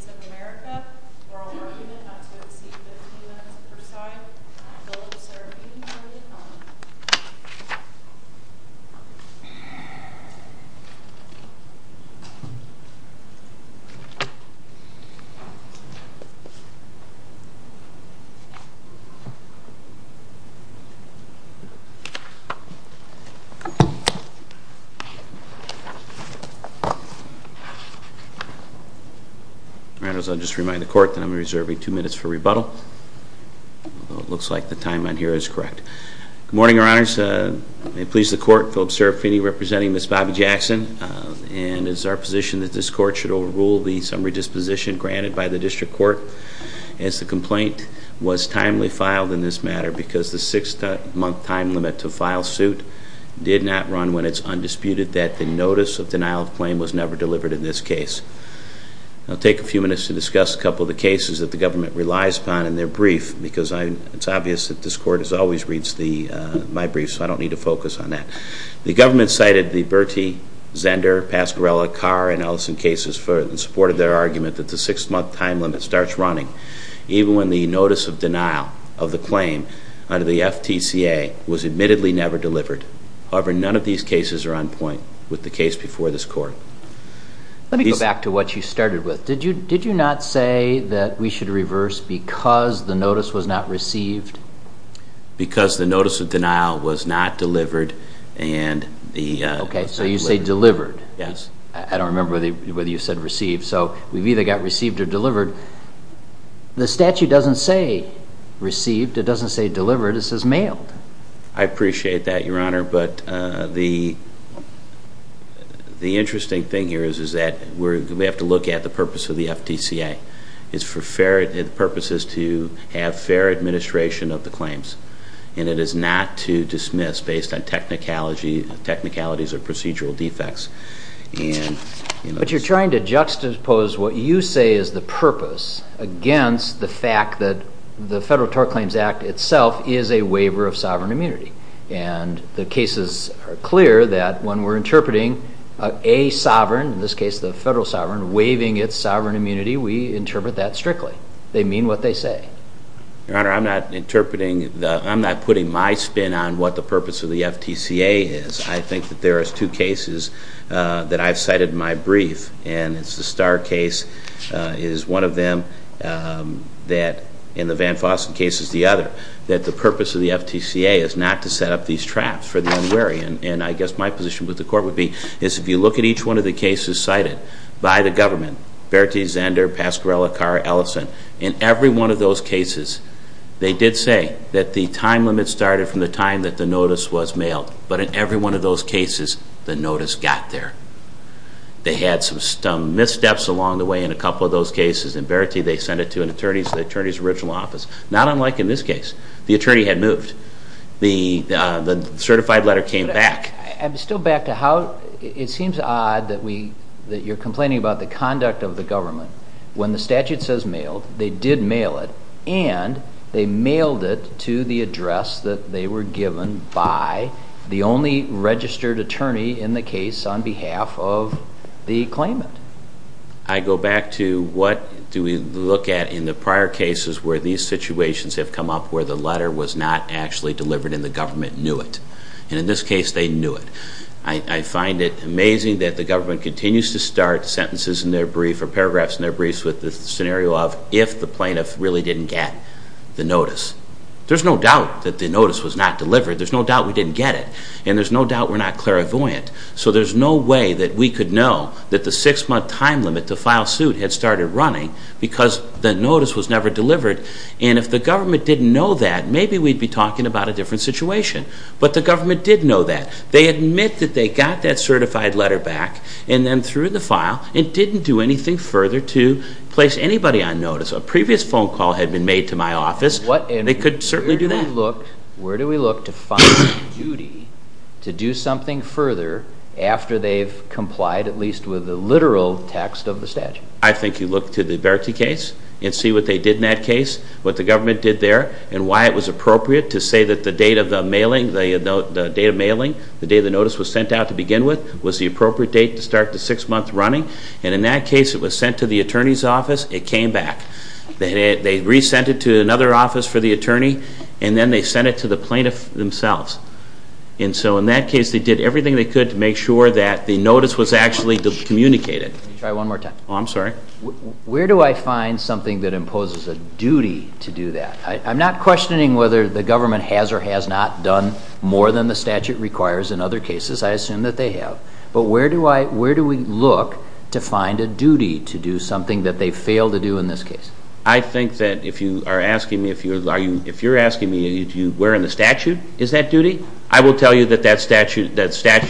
of America, oral argument not to exceed 15 minutes per side, bill to serve unilaterally. All right, I'll just remind the court that I'm reserving two minutes for rebuttal, although it looks like the time on here is correct. Good morning, your honors. May it please the court, Philip Serafini representing Ms. Bobby Jackson, and it's our position that this court should overrule the summary disposition granted by the district court. As the complaint was timely filed in this matter because the six month time limit to file suit did not run when it's undisputed that the notice of denial of claim was never delivered in this case. I'll take a few minutes to discuss a couple of the cases that the government relies upon in their brief, because it's obvious that this court always reads my brief, so I don't need to focus on that. The government cited the Bertie, Zender, Pascarella, Carr, and even when the notice of denial of the claim under the FTCA was admittedly never delivered. However, none of these cases are on point with the case before this court. Let me go back to what you started with. Did you not say that we should reverse because the notice was not received? Because the notice of denial was not delivered and the- Okay, so you say delivered. Yes. I don't remember whether you said received. So, we've either got received or delivered. The statute doesn't say received. It doesn't say delivered. It says mailed. I appreciate that, your honor. But the interesting thing here is that we have to look at the purpose of the FTCA. It's for purposes to have fair administration of the claims. And it is not to dismiss based on technicalities or procedural defects. And- But you're trying to juxtapose what you say is the purpose against the fact that the Federal Tort Claims Act itself is a waiver of sovereign immunity. And the cases are clear that when we're interpreting a sovereign, in this case the federal sovereign, waiving its sovereign immunity, we interpret that strictly. They mean what they say. Your honor, I'm not interpreting the- I'm not putting my spin on what the purpose of the FTCA is. I think that there is two cases that I've cited in my brief. And it's the Starr case is one of them that, in the Van Fossen case is the other, that the purpose of the FTCA is not to set up these traps for the unwary. And I guess my position with the court would be, is if you look at each one of the cases cited by the government, Bertie, Zander, Pascarella, Carr, Ellison, in every one of those cases, they did say that the time limit started from the time that the notice was mailed. But in every one of those cases, the notice got there. They had some missteps along the way in a couple of those cases. And Bertie, they sent it to an attorney's, the attorney's original office. Not unlike in this case. The attorney had moved. The certified letter came back. I'm still back to how, it seems odd that we, that you're complaining about the conduct of the government. When the statute says mailed, they did mail it. And they mailed it to the address that they were given by the only registered attorney in the case on behalf of the claimant. I go back to what do we look at in the prior cases where these situations have come up where the letter was not actually delivered and the government knew it. And in this case, they knew it. I, I find it amazing that the government continues to start sentences in their brief or paragraphs in their briefs with the scenario of if the plaintiff really didn't get the notice. There's no doubt that the notice was not delivered. There's no doubt we didn't get it. And there's no doubt we're not clairvoyant. So there's no way that we could know that the six month time limit to file suit had started running because the notice was never delivered. And if the government didn't know that, maybe we'd be talking about a different situation. But the government did know that. They admit that they got that certified letter back and then threw the file and didn't do anything further to place anybody on notice. A previous phone call had been made to my office. What, and they could certainly do that. Where do we look to find duty to do something further after they've complied at least with the literal text of the statute? I think you look to the Verity case and see what they did in that case, what the government did there, and why it was appropriate to say that the date of the mailing, the date of mailing, the day the notice was sent out to begin with, was the appropriate date to start the six month running. And in that case, it was sent to the attorney's office, it came back. They re-sent it to another office for the attorney, and then they sent it to the plaintiff themselves. And so in that case, they did everything they could to make sure that the notice was actually communicated. Try one more time. I'm sorry. Where do I find something that imposes a duty to do that? I'm not questioning whether the government has or has not done more than the statute requires in other cases. I assume that they have. But where do we look to find a duty to do something that they fail to do in this case? I think that if you're asking me, where in the statute is that duty? I will tell you that that statute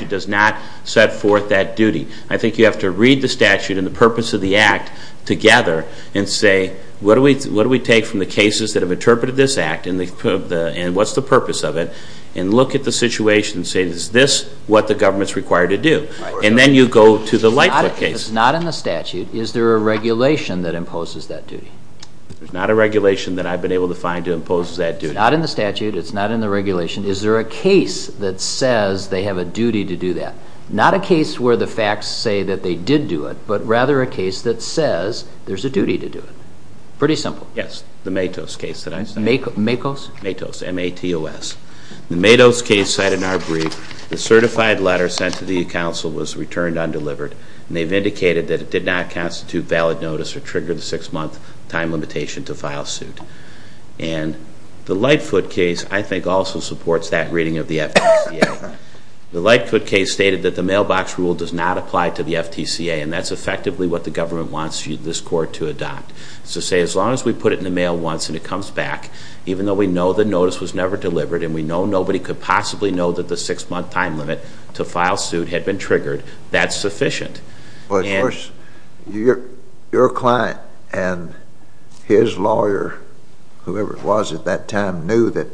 does not set forth that duty. I think you have to read the statute and the purpose of the act together and say, what do we take from the cases that have interpreted this act and what's the purpose of it, and look at the situation and say, is this what the government's required to do? And then you go to the Lightfoot case. It's not in the statute. Is there a regulation that imposes that duty? There's not a regulation that I've been able to find to impose that duty. It's not in the statute. It's not in the regulation. Is there a case that says they have a duty to do that? Not a case where the facts say that they did do it, but rather a case that says there's a duty to do it. Pretty simple. Yes. The Matos case that I cited. Makos? Matos, M-A-T-O-S. The Matos case cited in our brief, the certified letter sent to the council was returned undelivered, and they've indicated that it did not constitute valid notice or trigger the six-month time limitation to file suit. And the Lightfoot case, I think, also supports that reading of the FTCA. The Lightfoot case stated that the mailbox rule does not apply to the FTCA, and that's effectively what the government wants this court to adopt. So say, as long as we put it in the mail once and it comes back, even though we know nobody could possibly know that the six-month time limit to file suit had been triggered, that's sufficient. Well, of course, your client and his lawyer, whoever it was at that time, knew that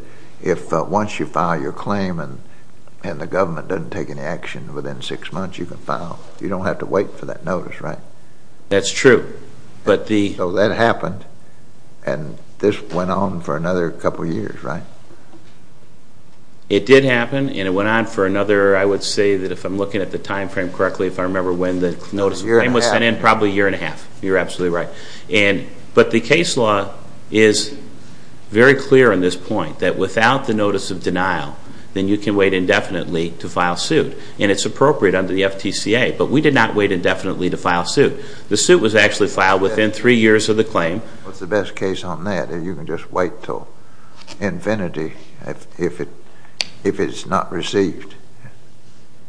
if once you file your claim and the government doesn't take any action within six months, you can file. You don't have to wait for that notice, right? That's true. But the So that happened. And this went on for another couple years, right? It did happen, and it went on for another, I would say that if I'm looking at the time frame correctly, if I remember when the notice of claim was sent in, probably a year and a half. You're absolutely right. But the case law is very clear on this point, that without the notice of denial, then you can wait indefinitely to file suit. And it's appropriate under the FTCA, but we did not wait indefinitely to file suit. The suit was actually filed within three years of the claim. What's the best case on that, that you can just wait till infinity if it's not received?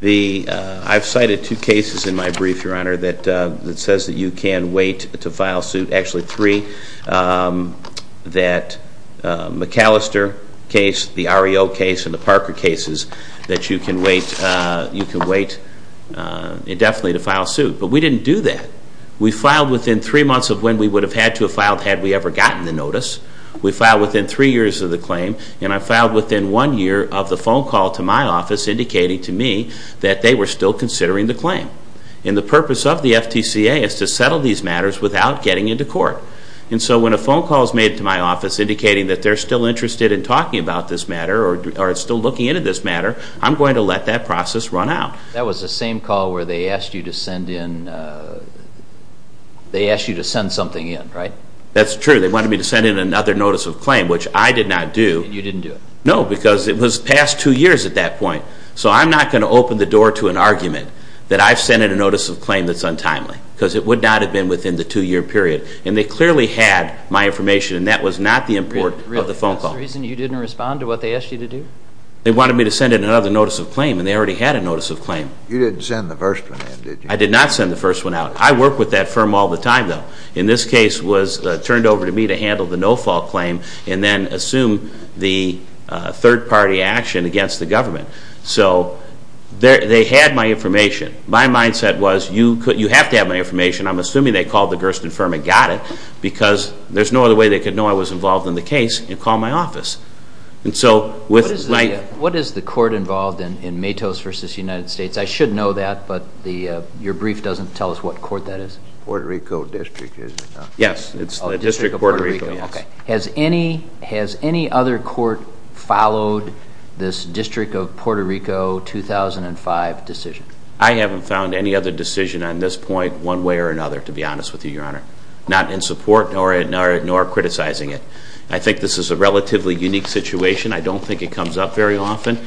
I've cited two cases in my brief, Your Honor, that says that you can wait to file suit, actually three, that McAllister case, the REO case, and the Parker cases, that you can wait indefinitely to file suit. But we didn't do that. We filed within three months of when we would have had to have filed had we ever gotten the notice. We filed within three years of the claim, and I filed within one year of the phone call to my office indicating to me that they were still considering the claim. And the purpose of the FTCA is to settle these matters without getting into court. And so when a phone call is made to my office indicating that they're still interested in talking about this matter or are still looking into this matter, I'm going to let that process run out. That was the same call where they asked you to send in, they asked you to send something in, right? That's true. They wanted me to send in another notice of claim, which I did not do. And you didn't do it? No, because it was past two years at that point. So I'm not going to open the door to an argument that I've sent in a notice of claim that's untimely, because it would not have been within the two-year period. And they clearly had my information, and that was not the import of the phone call. Really, that's the reason you didn't respond to what they asked you to do? They wanted me to send in another notice of claim, and they already had a notice of claim. You didn't send the first one in, did you? I did not send the first one out. I work with that firm all the time, though. In this case, it was turned over to me to handle the no-fault claim and then assume the third-party action against the government. So they had my information. My mindset was, you have to have my information. I'm assuming they called the Gersten firm and got it, because there's no other way they could know I was involved in the case and call my office. And so with my... What is the court involved in, in Matos v. United States? I should know that, but your brief doesn't tell us what court that is. Puerto Rico District, is it not? Yes, it's the District of Puerto Rico, yes. Has any other court followed this District of Puerto Rico 2005 decision? I haven't found any other decision on this point, one way or another, to be honest with you, Your Honor. Not in support, nor criticizing it. I think this is a relatively unique situation. I don't think it comes up very often.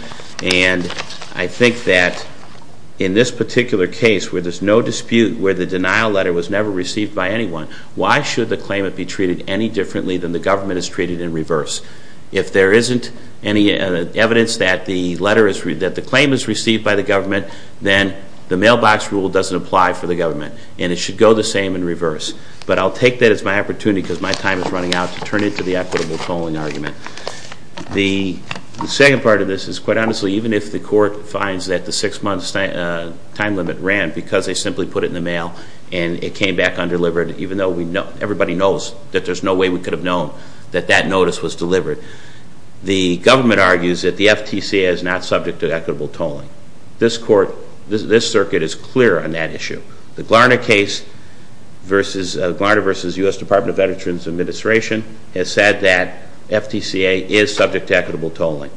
And I think that in this particular case, where there's no dispute, where the denial letter was never received by anyone, why should the claimant be treated any differently than the government is treated in reverse? If there isn't any evidence that the claim is received by the government, then the mailbox rule doesn't apply for the government. And it should go the same in reverse. But I'll take that as my opportunity, because my time is running out, to turn into the equitable tolling argument. The second part of this is, quite honestly, even if the court finds that the six-month time limit ran because they simply put it in the mail, and it came back undelivered, even though everybody knows that there's no way we could have known that that notice was delivered, the government argues that the FTC is not subject to equitable tolling. This court, this circuit, is clear on that issue. The Glarner case, Glarner v. U.S. Department of Veterans Administration, has said that FTCA is subject to equitable tolling.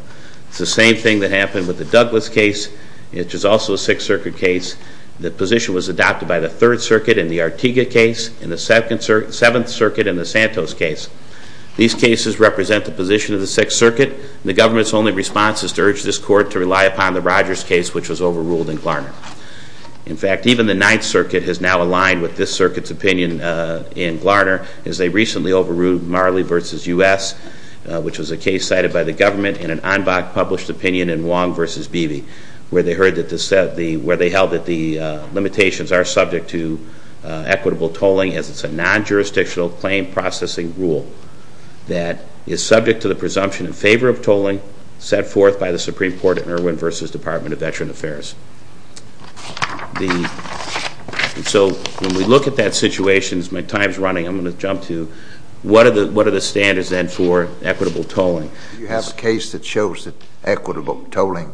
It's the same thing that happened with the Douglas case, which is also a Sixth Circuit case. The position was adopted by the Third Circuit in the Artiga case, and the Seventh Circuit in the Santos case. These cases represent the position of the Sixth Circuit. The government's only response is to urge this court to rely upon the Rogers case, which was overruled in Glarner. In fact, even the Ninth Circuit has now aligned with this circuit's opinion in Marley v. U.S., which was a case cited by the government in an en banc published opinion in Wong v. Beebe, where they held that the limitations are subject to equitable tolling, as it's a non-jurisdictional claim processing rule that is subject to the presumption in favor of tolling set forth by the Supreme Court at Irwin v. Department of Veteran Affairs. So when we look at that situation, as my time's running, I'm going to jump to what are the standards then for equitable tolling? If you have a case that shows that equitable tolling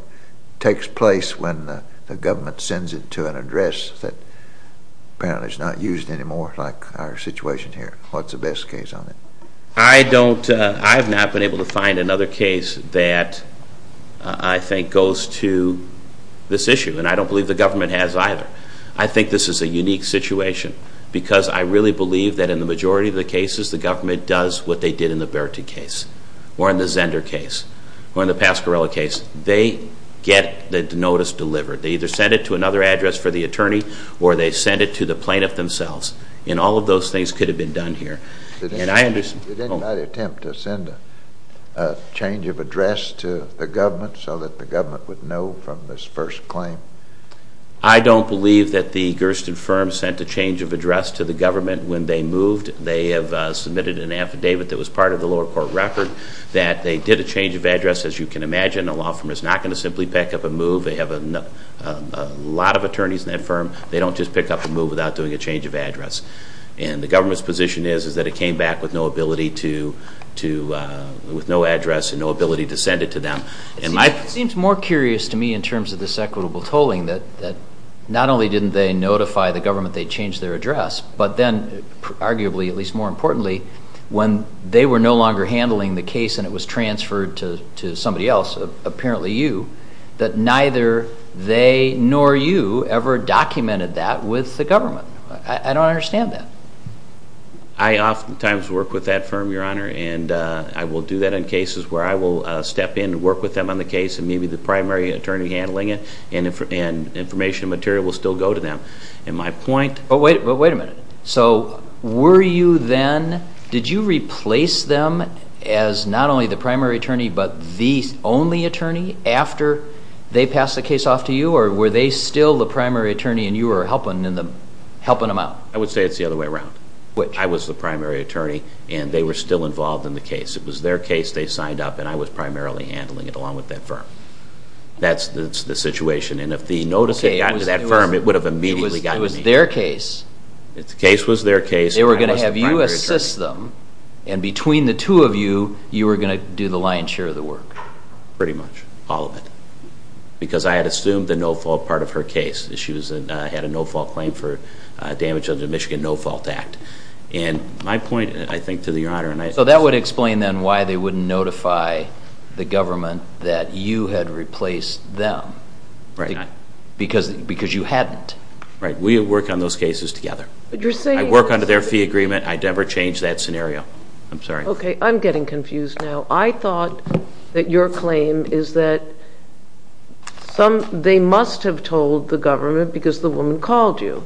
takes place when the government sends it to an address that apparently is not used anymore, like our situation here, what's the best case on it? I don't, I have not been able to find another case that I think goes to this issue, and I don't believe the government has either. I think this is a unique situation, because I really believe that in the cases, the government does what they did in the Bertie case, or in the Zender case, or in the Pasquarello case. They get the notice delivered. They either send it to another address for the attorney, or they send it to the plaintiff themselves, and all of those things could have been done here. And I understand. Did anybody attempt to send a change of address to the government so that the government would know from this first claim? I don't believe that the Gersten firm sent a change of address to the government when they moved. They have submitted an affidavit that was part of the lower court record that they did a change of address, as you can imagine, a law firm is not going to simply pick up a move, they have a lot of attorneys in that firm, they don't just pick up a move without doing a change of address. And the government's position is, is that it came back with no ability to, with no address and no ability to send it to them. It seems more curious to me in terms of this equitable tolling, that not only didn't they notify the government they changed their address, but then arguably, at least more importantly, when they were no longer handling the case and it was transferred to somebody else, apparently you, that neither they nor you ever documented that with the government. I don't understand that. I oftentimes work with that firm, Your Honor, and I will do that in cases where I will step in and work with them on the case, and maybe the primary attorney handling it, and information and material will still go to them. And my point... But wait a minute. So were you then, did you replace them as not only the primary attorney, but the only attorney after they passed the case off to you, or were they still the primary attorney and you were helping them out? I would say it's the other way around. Which? I was the primary attorney and they were still involved in the case. It was their case, they signed up, and I was primarily handling it along with that firm. That's the situation. And if the notice had gotten to that firm, it would have immediately gotten to me. It was their case. The case was their case. They were going to have you assist them, and between the two of you, you were going to do the lion's share of the work. Pretty much, all of it. Because I had assumed the no fault part of her case. She had a no fault claim for damage under the Michigan No Fault Act. And my point, I think, to the Honor, and I... So that would explain then why they wouldn't notify the government that you had replaced them. Right. Because you hadn't. Right. We work on those cases together. But you're saying... I work under their fee agreement. I'd never change that scenario. I'm sorry. Okay. I'm getting confused now. I thought that your claim is that they must have told the government because the woman called you.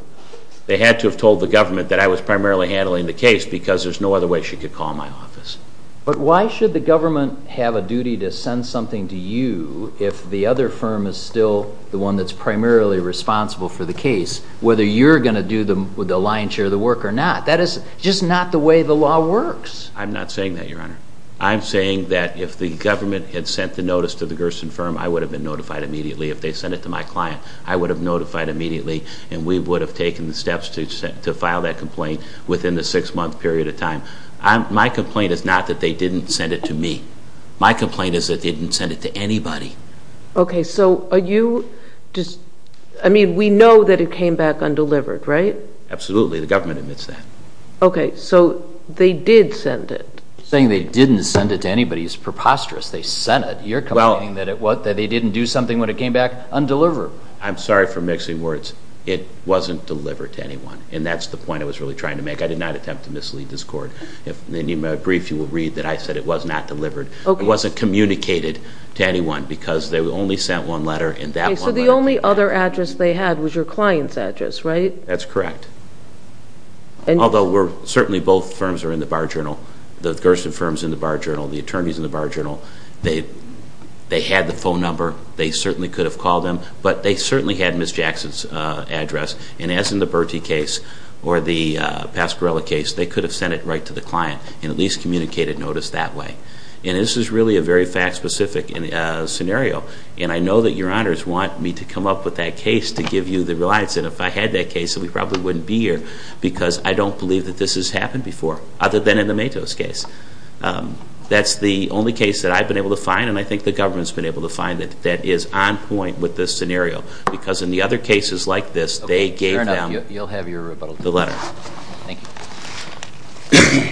They had to have told the government that I was primarily handling the case because there's no other way she could call my office. But why should the government have a duty to send something to you if the other firm is still the one that's primarily responsible for the case, whether you're going to do the lion's share of the work or not? That is just not the way the law works. I'm not saying that, Your Honor. I'm saying that if the government had sent the notice to the Gerson firm, I would have been notified immediately. If they sent it to my client, I would have notified immediately. And we would have taken the steps to file that complaint within the six month period of time. My complaint is not that they didn't send it to me. My complaint is that they didn't send it to anybody. Okay, so are you just, I mean, we know that it came back undelivered, right? Absolutely, the government admits that. Okay, so they did send it. Saying they didn't send it to anybody is preposterous. They sent it. You're complaining that they didn't do something when it came back undelivered. I'm sorry for mixing words. It wasn't delivered to anyone. And that's the point I was really trying to make. I did not attempt to mislead this court. If you need my brief, you will read that I said it was not delivered. It wasn't communicated to anyone because they only sent one letter and that one letter- Okay, so the only other address they had was your client's address, right? That's correct, although certainly both firms are in the bar journal. The Gerson firm's in the bar journal. The attorney's in the bar journal. They had the phone number. They certainly could have called them. But they certainly had Ms. Jackson's address. And as in the Bertie case or the Pascarella case, they could have sent it right to the client and at least communicated notice that way. And this is really a very fact-specific scenario. And I know that your honors want me to come up with that case to give you the reliance. And if I had that case, we probably wouldn't be here. Because I don't believe that this has happened before, other than in the Matos case. That's the only case that I've been able to find, and I think the government's been able to find it, that is on point with this scenario. Because in the other cases like this, they gave them- Fair enough, you'll have your rebuttal. The letter. Thank you.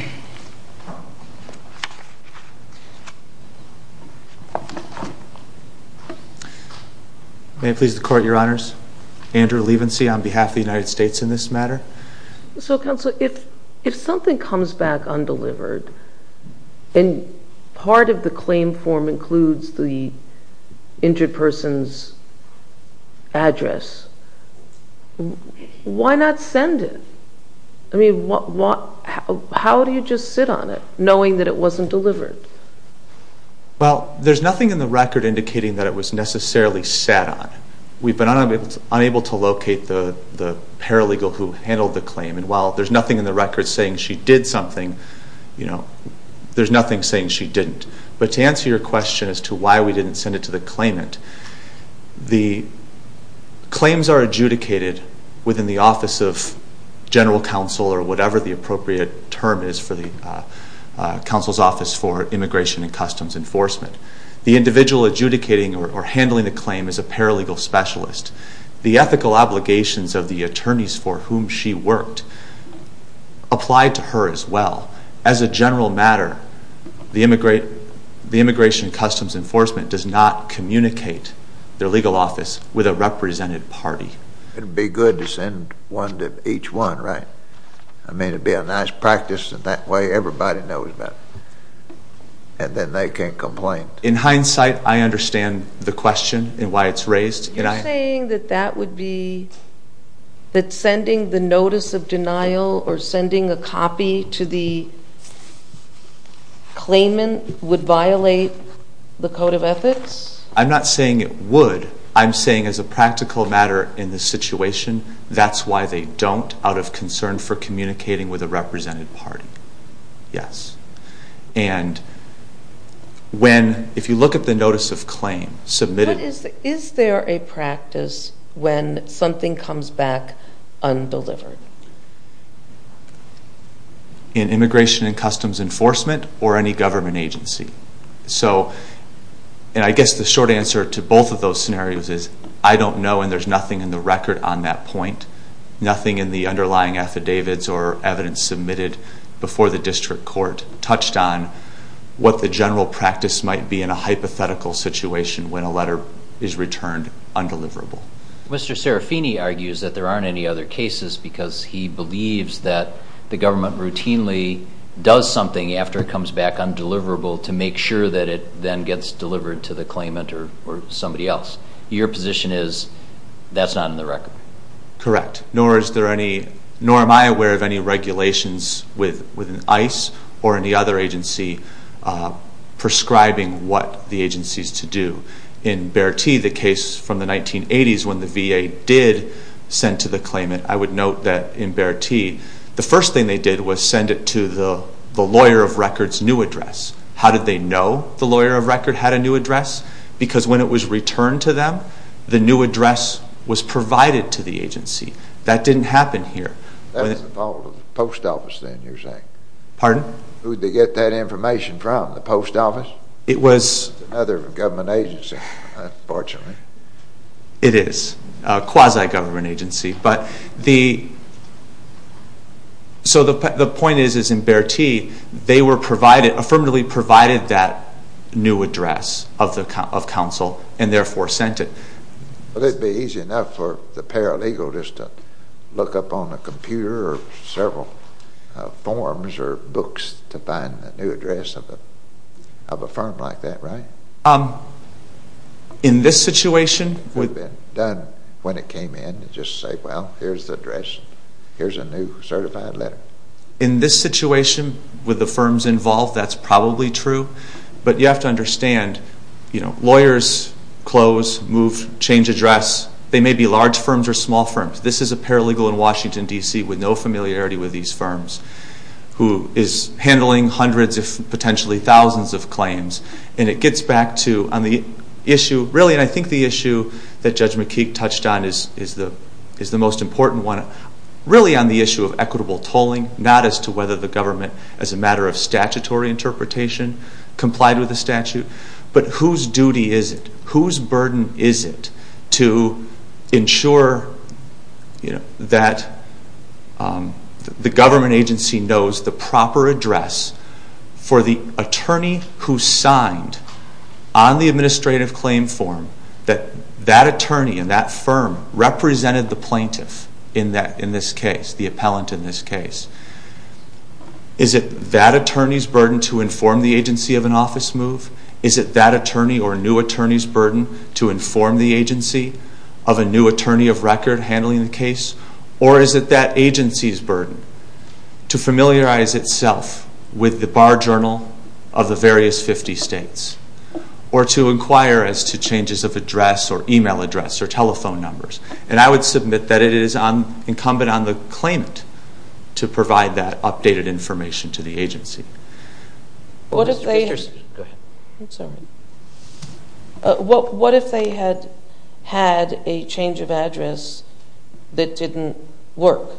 May it please the court, your honors. Andrew Levensey on behalf of the United States in this matter. So counsel, if something comes back undelivered, and part of the claim form includes the injured person's address. Why not send it? I mean, how do you just sit on it, knowing that it wasn't delivered? Well, there's nothing in the record indicating that it was necessarily sat on. We've been unable to locate the paralegal who handled the claim. And while there's nothing in the record saying she did something, there's nothing saying she didn't. But to answer your question as to why we didn't send it to the claimant, the claims are adjudicated within the office of general counsel or whatever the appropriate term is for the counsel's office for immigration and customs enforcement. The individual adjudicating or handling the claim is a paralegal specialist. The ethical obligations of the attorneys for whom she worked apply to her as well. As a general matter, the immigration and their legal office with a represented party. It'd be good to send one to each one, right? I mean, it'd be a nice practice in that way. Everybody knows that, and then they can't complain. In hindsight, I understand the question and why it's raised. You're saying that that would be, that sending the notice of denial or I'm not saying it would. I'm saying as a practical matter in this situation, that's why they don't, out of concern for communicating with a represented party. Yes. And when, if you look at the notice of claim submitted. Is there a practice when something comes back undelivered? In immigration and customs enforcement or any government agency. So, and I guess the short answer to both of those scenarios is, I don't know and there's nothing in the record on that point. Nothing in the underlying affidavits or evidence submitted before the district court touched on what the general practice might be in a hypothetical situation when a letter is returned undeliverable. Mr. Serafini argues that there aren't any other cases because he believes that the government routinely does something after it comes back undeliverable to make sure that it then gets delivered to the claimant or somebody else. Your position is, that's not in the record. Correct. Nor is there any, nor am I aware of any regulations with ICE or any other agency prescribing what the agency is to do. In Bertie, the case from the 1980s when the VA did send to the claimant. I would note that in Bertie, the first thing they did was send it to the lawyer of record's new address. How did they know the lawyer of record had a new address? Because when it was returned to them, the new address was provided to the agency. That didn't happen here. That's the fault of the post office then, you're saying? Pardon? Who'd they get that information from, the post office? It was. Another government agency, unfortunately. It is, a quasi-government agency. But the, so the point is, is in Bertie, they were provided, affirmatively provided that new address of counsel, and therefore sent it. Would it be easy enough for the paralegal just to look up on a computer or several forms or books to find the new address of a firm like that, right? In this situation? It would have been done when it came in. Just say, well, here's the address. Here's a new certified letter. In this situation, with the firms involved, that's probably true. But you have to understand, you know, lawyers close, move, change address. They may be large firms or small firms. This is a paralegal in Washington, D.C. with no familiarity with these firms. Who is handling hundreds, if potentially thousands of claims. And it gets back to, on the issue, really, and I think the issue that Judge McKeek touched on is the most important one. Really on the issue of equitable tolling, not as to whether the government, as a matter of statutory interpretation, complied with the statute. But whose duty is it? Whose burden is it to ensure that the government agency knows the proper address for the attorney who signed on the administrative claim form that that attorney in that firm represented the plaintiff in this case, the appellant in this case? Is it that attorney's burden to inform the agency of an office move? Is it that attorney or new attorney's burden to inform the agency of a new attorney of record handling the case? Or is it that agency's burden to familiarize itself with the bar journal of the various 50 states? Or to inquire as to changes of address or email address or telephone numbers? And I would submit that it is incumbent on the claimant to provide that updated information to the agency. What if they had a change of address that didn't work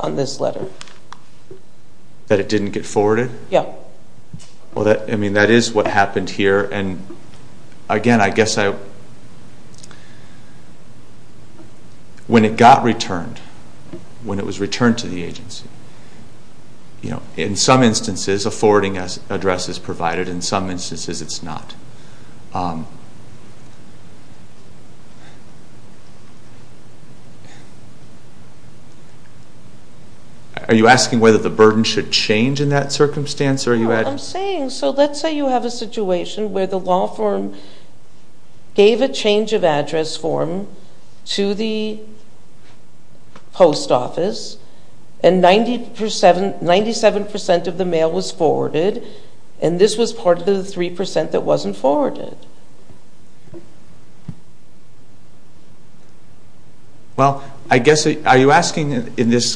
on this letter? That it didn't get forwarded? Yeah. Well, I mean, that is what happened here. And again, I guess when it got returned, when it was returned to the agency, you know, in some instances, a forwarding address is provided. In some instances, it's not. Are you asking whether the burden should change in that circumstance? Are you asking? I'm saying, so let's say you have a situation where the law firm gave a change of address form to the post office and 97% of the mail was forwarded and this was part of the 3% that wasn't forwarded. Well, I guess, are you asking in this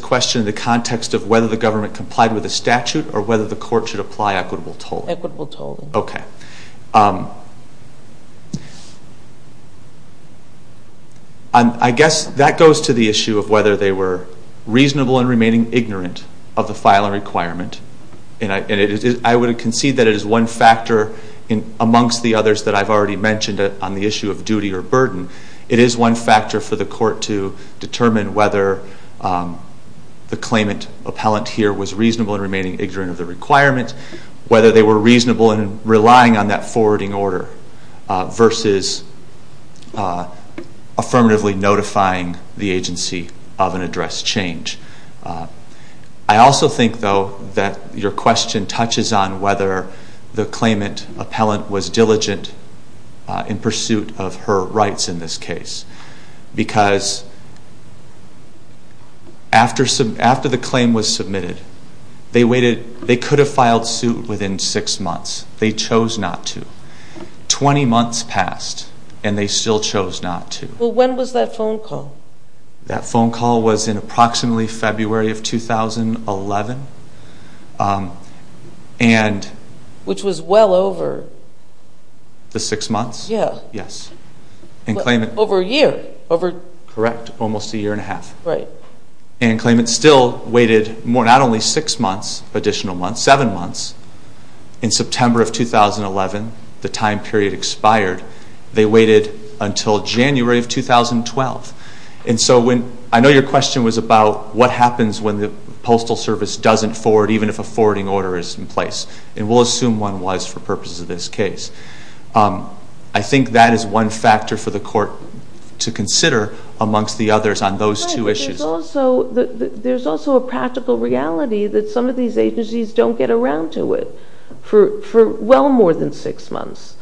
question the context of whether the government complied with the statute or whether the court should apply equitable tolling? Equitable tolling. Okay. I guess that goes to the issue of whether they were reasonable in remaining ignorant of the filing requirement. And I would concede that it is one factor amongst the others that I've already mentioned on the issue of duty or burden. It is one factor for the court to determine whether the claimant appellant here was reasonable in remaining ignorant of the requirement, whether they were affirmatively notifying the agency of an address change. I also think, though, that your question touches on whether the claimant appellant was diligent in pursuit of her rights in this case. Because after the claim was submitted, they could have filed suit within six months. They chose not to. Twenty months passed, and they still chose not to. Well, when was that phone call? That phone call was in approximately February of 2011. Which was well over? The six months? Yeah. Yes. Over a year? Correct. Almost a year and a half. Right. And the claimant still waited not only six months, additional months, seven months. In September of 2011, the time period expired. They waited until January of 2012. And so I know your question was about what happens when the Postal Service doesn't forward, even if a forwarding order is in place. And we'll assume one was for purposes of this case. I think that is one factor for the court to consider amongst the others on those two issues. But there's also a practical reality that some of these agencies don't get around to it for well more than six months.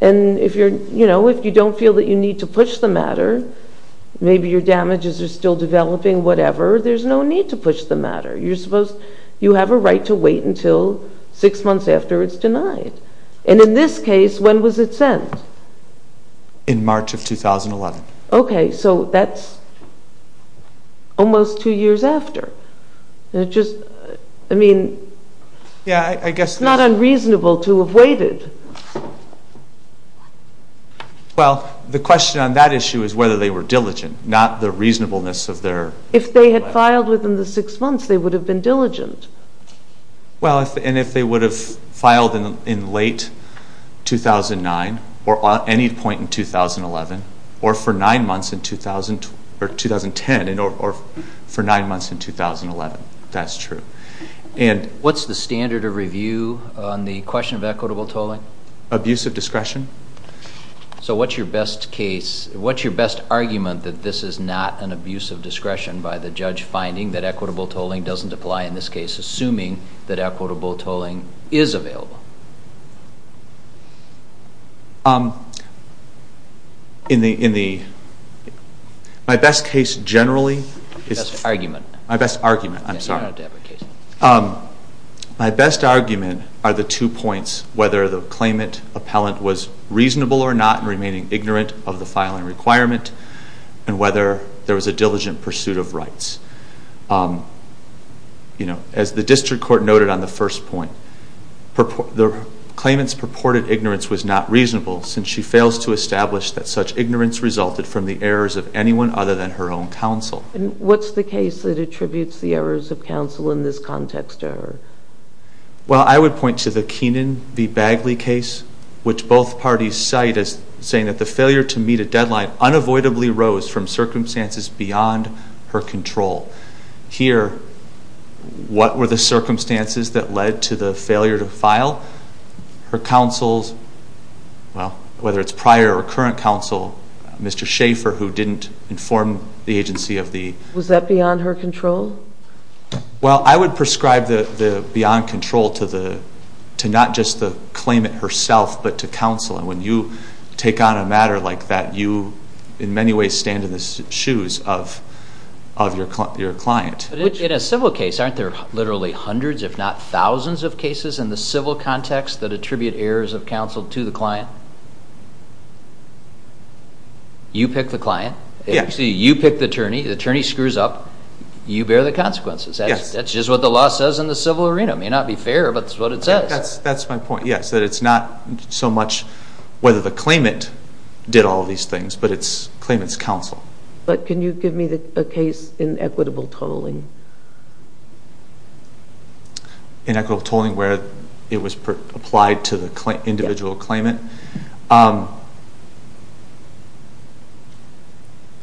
And if you don't feel that you need to push the matter, maybe your damages are still developing, whatever, there's no need to push the matter. You have a right to wait until six months after it's denied. And in this case, when was it sent? In March of 2011. Okay. So that's almost two years after. I mean, it's not unreasonable to have waited. Well, the question on that issue is whether they were diligent, not the reasonableness of their... If they had filed within the six months, they would have been diligent. Well, and if they would have filed in late 2009 or any point in 2011 or for nine months in 2011, that's true. What's the standard of review on the question of equitable tolling? Abusive discretion. So what's your best case, what's your best argument that this is not an abusive discretion by the judge finding that equitable tolling doesn't apply in this case, assuming that equitable tolling is available? In the... My best case generally is... Best argument. My best argument. I'm sorry. My best argument are the two points, whether the claimant appellant was reasonable or not in remaining ignorant of the filing requirement and whether there was a diligent pursuit of rights. You know, as the district court noted on the first point, the court found that the claimant's purported ignorance was not reasonable since she fails to establish that such ignorance resulted from the errors of anyone other than her own counsel. And what's the case that attributes the errors of counsel in this context to her? Well, I would point to the Keenan v. Bagley case, which both parties cite as saying that the failure to meet a deadline unavoidably rose from circumstances beyond her control. Here, what were the circumstances that led to the failure to file? Her counsel's, well, whether it's prior or current counsel, Mr. Schaefer who didn't inform the agency of the... Was that beyond her control? Well, I would prescribe the beyond control to not just the claimant herself, but to counsel. And when you take on a matter like that, you in many ways stand in the In a civil case, aren't there literally hundreds, if not thousands of cases in the civil context that attribute errors of counsel to the client? You pick the client. You pick the attorney. The attorney screws up. You bear the consequences. That's just what the law says in the civil arena. It may not be fair, but it's what it says. That's my point, yes, that it's not so much whether the claimant did all these things, but it's claimant's counsel. But can you give me a case in equitable tolling? In equitable tolling where it was applied to the individual claimant?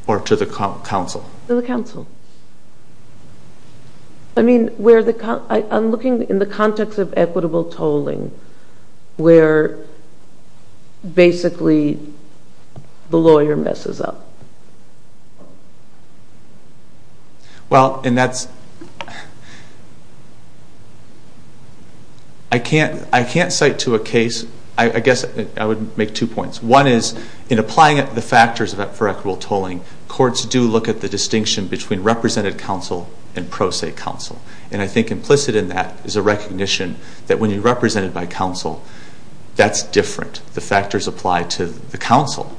Or to the counsel? To the counsel. I mean, I'm looking in the context of equitable tolling where basically the lawyer messes up. Well, and that's... I can't cite to a case, I guess I would make two points. One is, in applying it to the factors for equitable tolling, courts do look at the distinction between represented counsel and pro se counsel. And I think implicit in that is a recognition that when you represent it by counsel, that's different. The factors apply to the counsel.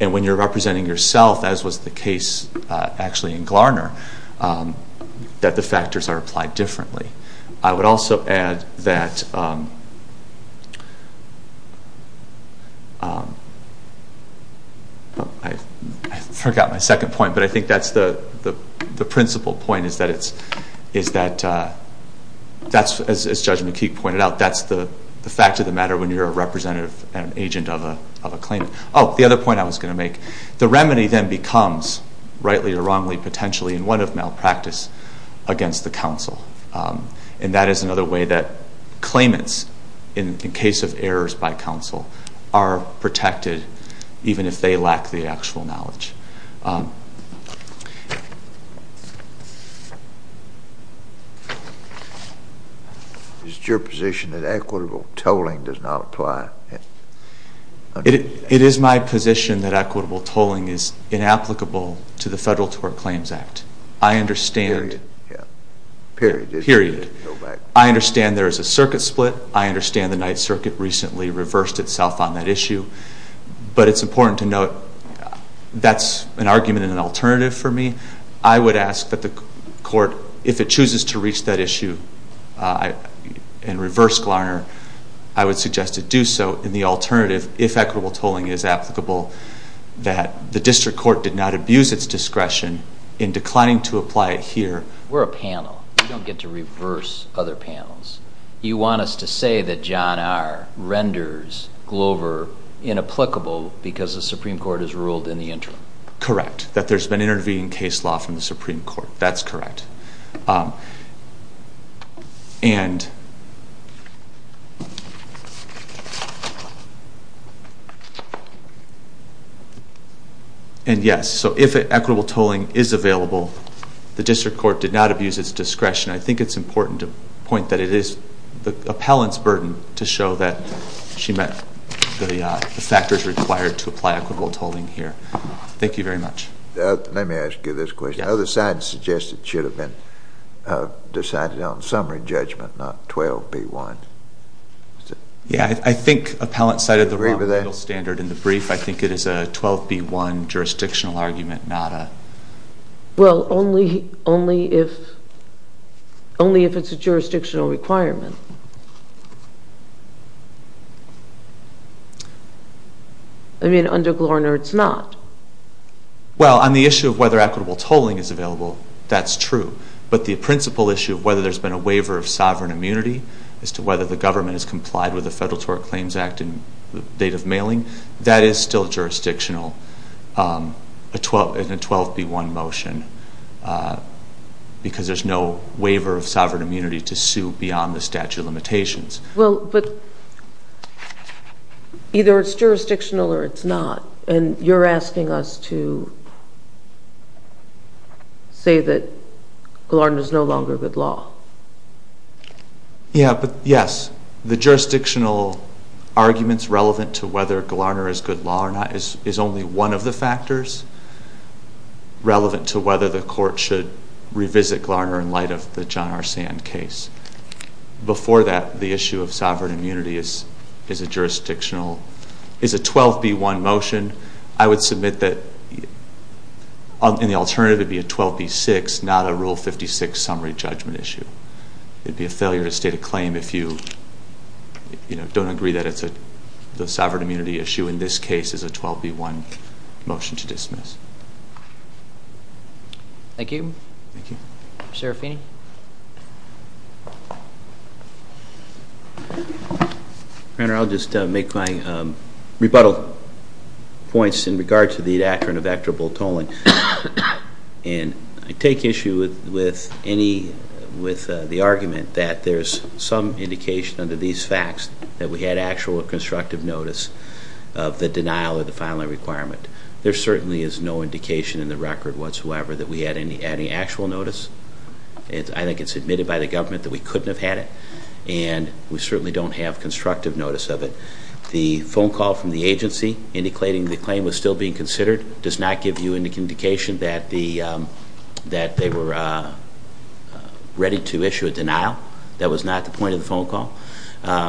And when you're representing yourself, as was the case actually in Glarner, that the factors are applied differently. I would also add that... I forgot my second point, but I think that's the principal point, is that it's... That's, as Judge McKeague pointed out, that's the fact of the matter when you're a representative and an agent of a claimant. Oh, the other point I was going to make. The remedy then becomes, rightly or wrongly, potentially, in one of malpractice, against the counsel. And that is another way that claimants, in case of errors by counsel, are protected, even if they lack the actual knowledge. Is it your position that equitable tolling does not apply? It is my position that equitable tolling is inapplicable to the Federal Tort Claims Act. I understand... Period. Period. I understand there is a circuit split. I understand the Ninth Circuit recently reversed itself on that issue. It's not the case. It's not the case. That's an argument and an alternative for me. I would ask that the Court, if it chooses to reach that issue and reverse Glarner, I would suggest it do so. And the alternative, if equitable tolling is applicable, that the District Court did not abuse its discretion in declining to apply it here. We're a panel. We don't get to reverse other panels. You want us to say that John R. renders Glover inapplicable because the Supreme Court has ruled in the interim? Correct. That there's been intervening case law from the Supreme Court. That's correct. And yes, so if equitable tolling is available, the District Court did not abuse its discretion. I think it's important to point that it is the appellant's burden to show that she met the factors required to apply equitable tolling here. Thank you very much. Let me ask you this question. The other side suggested it should have been decided on summary judgment, not 12B1. I think appellant cited the wrong legal standard in the brief. I think it is a 12B1 jurisdictional argument, not a... Well, only if it's a jurisdictional requirement. I mean, under Glorner, it's not. Well, on the issue of whether equitable tolling is available, that's true. But the principal issue of whether there's been a waiver of sovereign immunity as to whether the government has complied with the Federal Tort Claims Act in the date of mailing, that is still jurisdictional in a 12B1 motion because there's no waiver of sovereign immunity to sue beyond the statute of limitations. Well, but either it's jurisdictional or it's not. And you're asking us to say that Glorner is no longer good law. Yeah, but yes, the jurisdictional arguments relevant to whether Glorner is good law or not is only one of the factors relevant to whether the court should revisit Glorner in light of the John R. Sand case. Before that, the issue of sovereign immunity is a jurisdictional... is a 12B1 motion. I would submit that in the alternative it would be a 12B6, not a Rule 56 summary judgment issue. It would be a failure to state a claim if you don't agree that it's a sovereign immunity issue. In this case, it's a 12B1 motion to dismiss. Thank you. Thank you. Serafini? Your Honor, I'll just make my rebuttal points in regard to the doctrine of equitable tolling. And I take issue with any... with the argument that there's some indication under these facts that we had actual constructive notice of the denial of the filing requirement. There certainly is no indication in the record whatsoever that we had any actual notice. I think it's admitted by the government that we couldn't have had it, and we certainly don't have constructive notice of it. The phone call from the agency indicating the claim was still being considered does not give you any indication that they were ready to issue a denial. That was not the point of the phone call.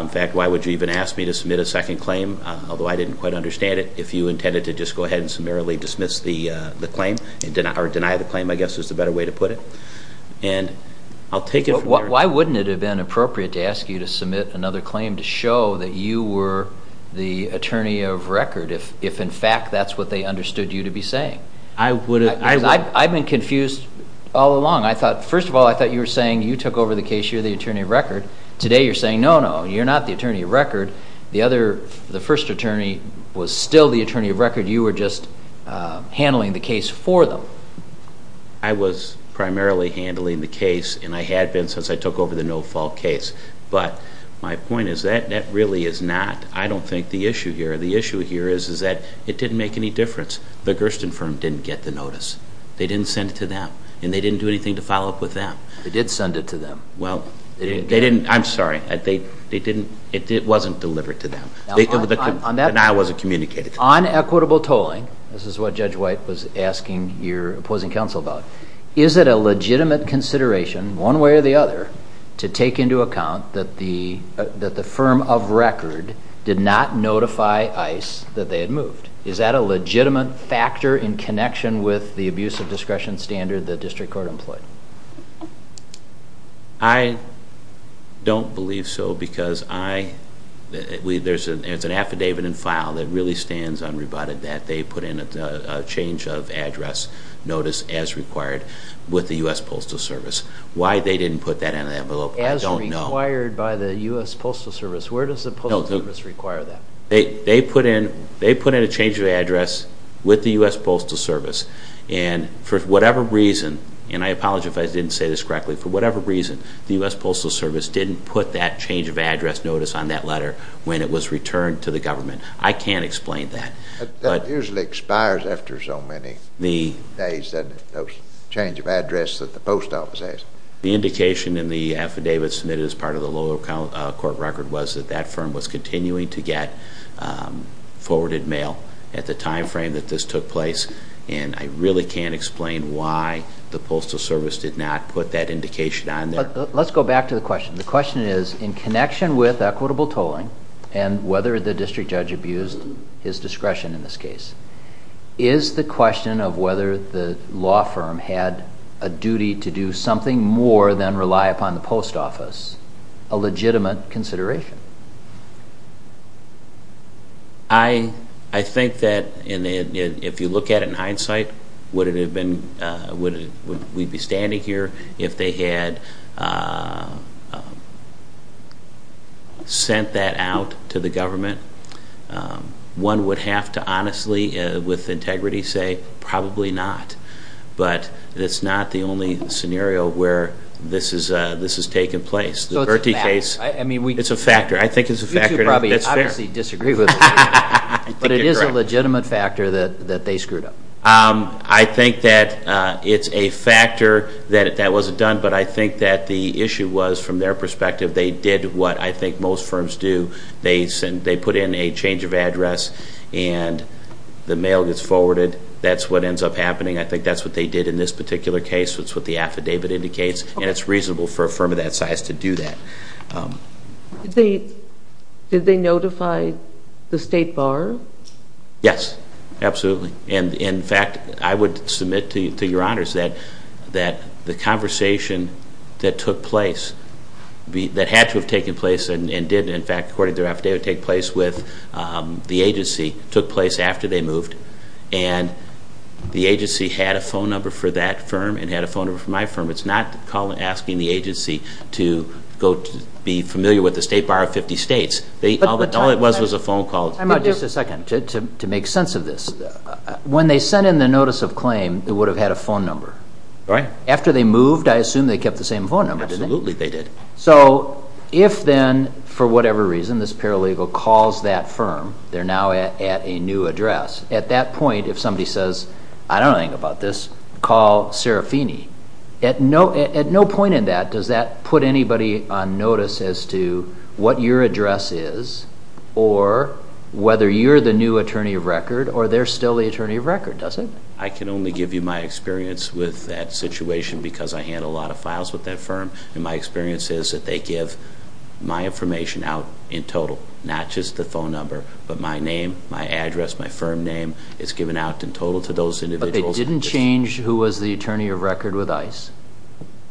In fact, why would you even ask me to submit a second claim, although I didn't quite understand it, if you intended to just go ahead and summarily dismiss the claim or deny the claim, I guess is the better way to put it. And I'll take it from there. Why wouldn't it have been appropriate to ask you to submit another claim to show that you were the attorney of record if in fact that's what they understood you to be saying? I would have... I've been confused all along. First of all, I thought you were saying you took over the case, you're the attorney of record. Today you're saying, no, no, you're not the attorney of record. The first attorney was still the attorney of record. You were just handling the case for them. I was primarily handling the case, and I had been since I took over the no-fault case. But my point is that that really is not, I don't think, the issue here. The issue here is that it didn't make any difference. The Gersten firm didn't get the notice. They didn't send it to them, and they didn't do anything to follow up with them. They did send it to them. Well, they didn't... I'm sorry. It wasn't delivered to them. But now it wasn't communicated to them. On equitable tolling, this is what Judge White was asking your opposing counsel about, is it a legitimate consideration, one way or the other, to take into account that the firm of record did not notify ICE that they had moved? Is that a legitimate factor in connection with the abuse of discretion standard the district court employed? I don't believe so, because there's an affidavit in file that really stands unrebutted that they put in a change of address notice as required with the U.S. Postal Service. Why they didn't put that in the envelope, I don't know. As required by the U.S. Postal Service. Where does the Postal Service require that? They put in a change of address with the U.S. Postal Service, and for whatever reason, and I apologize if I didn't say this correctly, for whatever reason, the U.S. Postal Service didn't put that change of address notice on that letter when it was returned to the government. I can't explain that. That usually expires after so many days, that change of address that the post office has. The indication in the affidavit submitted as part of the lower court record was that that firm was continuing to get forwarded mail at the time frame that this took place, and I really can't explain why the Postal Service did not put that indication on there. Let's go back to the question. The question is, in connection with equitable tolling, and whether the district judge abused his discretion in this case, is the question of whether the law firm had a duty to do something more than rely upon the post office a legitimate consideration? I think that if you look at it in hindsight, would we be standing here if they had sent that out to the government? One would have to honestly, with integrity, say probably not. But it's not the only scenario where this has taken place. The Verti case, it's a factor. I think it's a factor. You two probably obviously disagree with me. But it is a legitimate factor that they screwed up. I think that it's a factor that that wasn't done. But I think that the issue was, from their perspective, they did what I think most firms do. They put in a change of address, and the mail gets forwarded. That's what ends up happening. I think that's what they did in this particular case. That's what the affidavit indicates. And it's reasonable for a firm of that size to do that. Did they notify the State Bar? Yes. Absolutely. In fact, I would submit to your honors that the conversation that took place, that had to have taken place and didn't, in fact, according to their affidavit, take place with the agency, took place after they moved. And the agency had a phone number for that firm and had a phone number for my firm. It's not asking the agency to be familiar with the State Bar of 50 states. All it was was a phone call. Just a second. To make sense of this. When they sent in the notice of claim, it would have had a phone number. Right. After they moved, I assume they kept the same phone number. Absolutely they did. So if then, for whatever reason, this paralegal calls that firm, they're now at a new address, at that point, if somebody says, I don't know anything about this, call Serafini. At no point in that does that put anybody on notice as to what your address is or whether you're the new attorney of record or they're still the attorney of record, does it? I can only give you my experience with that situation because I handle a lot of files with that firm. And my experience is that they give my information out in total. Not just the phone number. But my name, my address, my firm name. It's given out in total to those individuals. But they didn't change who was the attorney of record with ICE.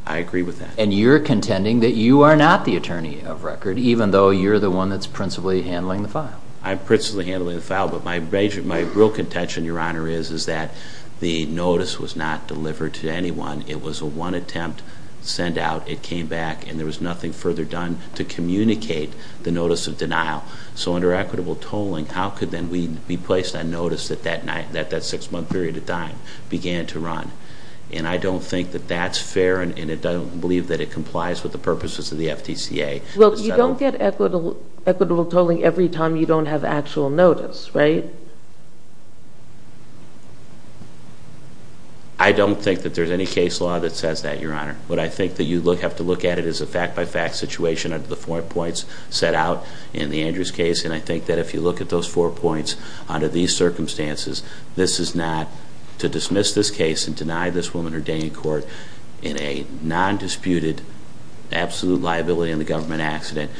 I agree with that. And you're contending that you are not the attorney of record even though you're the one that's principally handling the file. I'm principally handling the file. But my real contention, Your Honor, is that the notice was not delivered to anyone. It was a one-attempt send-out. It came back and there was nothing further done to communicate the notice of denial. So under equitable tolling, how could then we be placed on notice that that 6-month period of time began to run? And I don't think that that's fair and I don't believe that it complies with the purposes of the FTCA. Well, you don't get equitable tolling every time you don't have actual notice, right? I don't think that there's any case law that says that, Your Honor. What I think that you have to look at is a fact-by-fact situation under the 4 points set out in the Andrews case. And I think that if you look at those 4 points under these circumstances, this is not to dismiss this case and deny this woman her day in court in a non-disputed, absolute liability in the government accident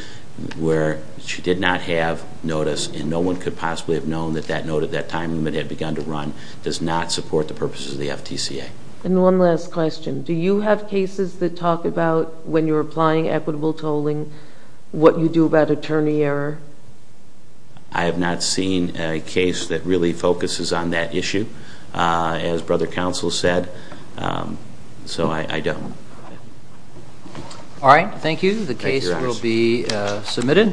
where she did not have notice and no one could possibly have known that that was the case. And I think that that note at that time when it had begun to run does not support the purposes of the FTCA. And one last question. Do you have cases that talk about when you're applying equitable tolling what you do about attorney error? I have not seen a case that really focuses on that issue as brother counsel said. So I don't. All right. Thank you. The case will be submitted.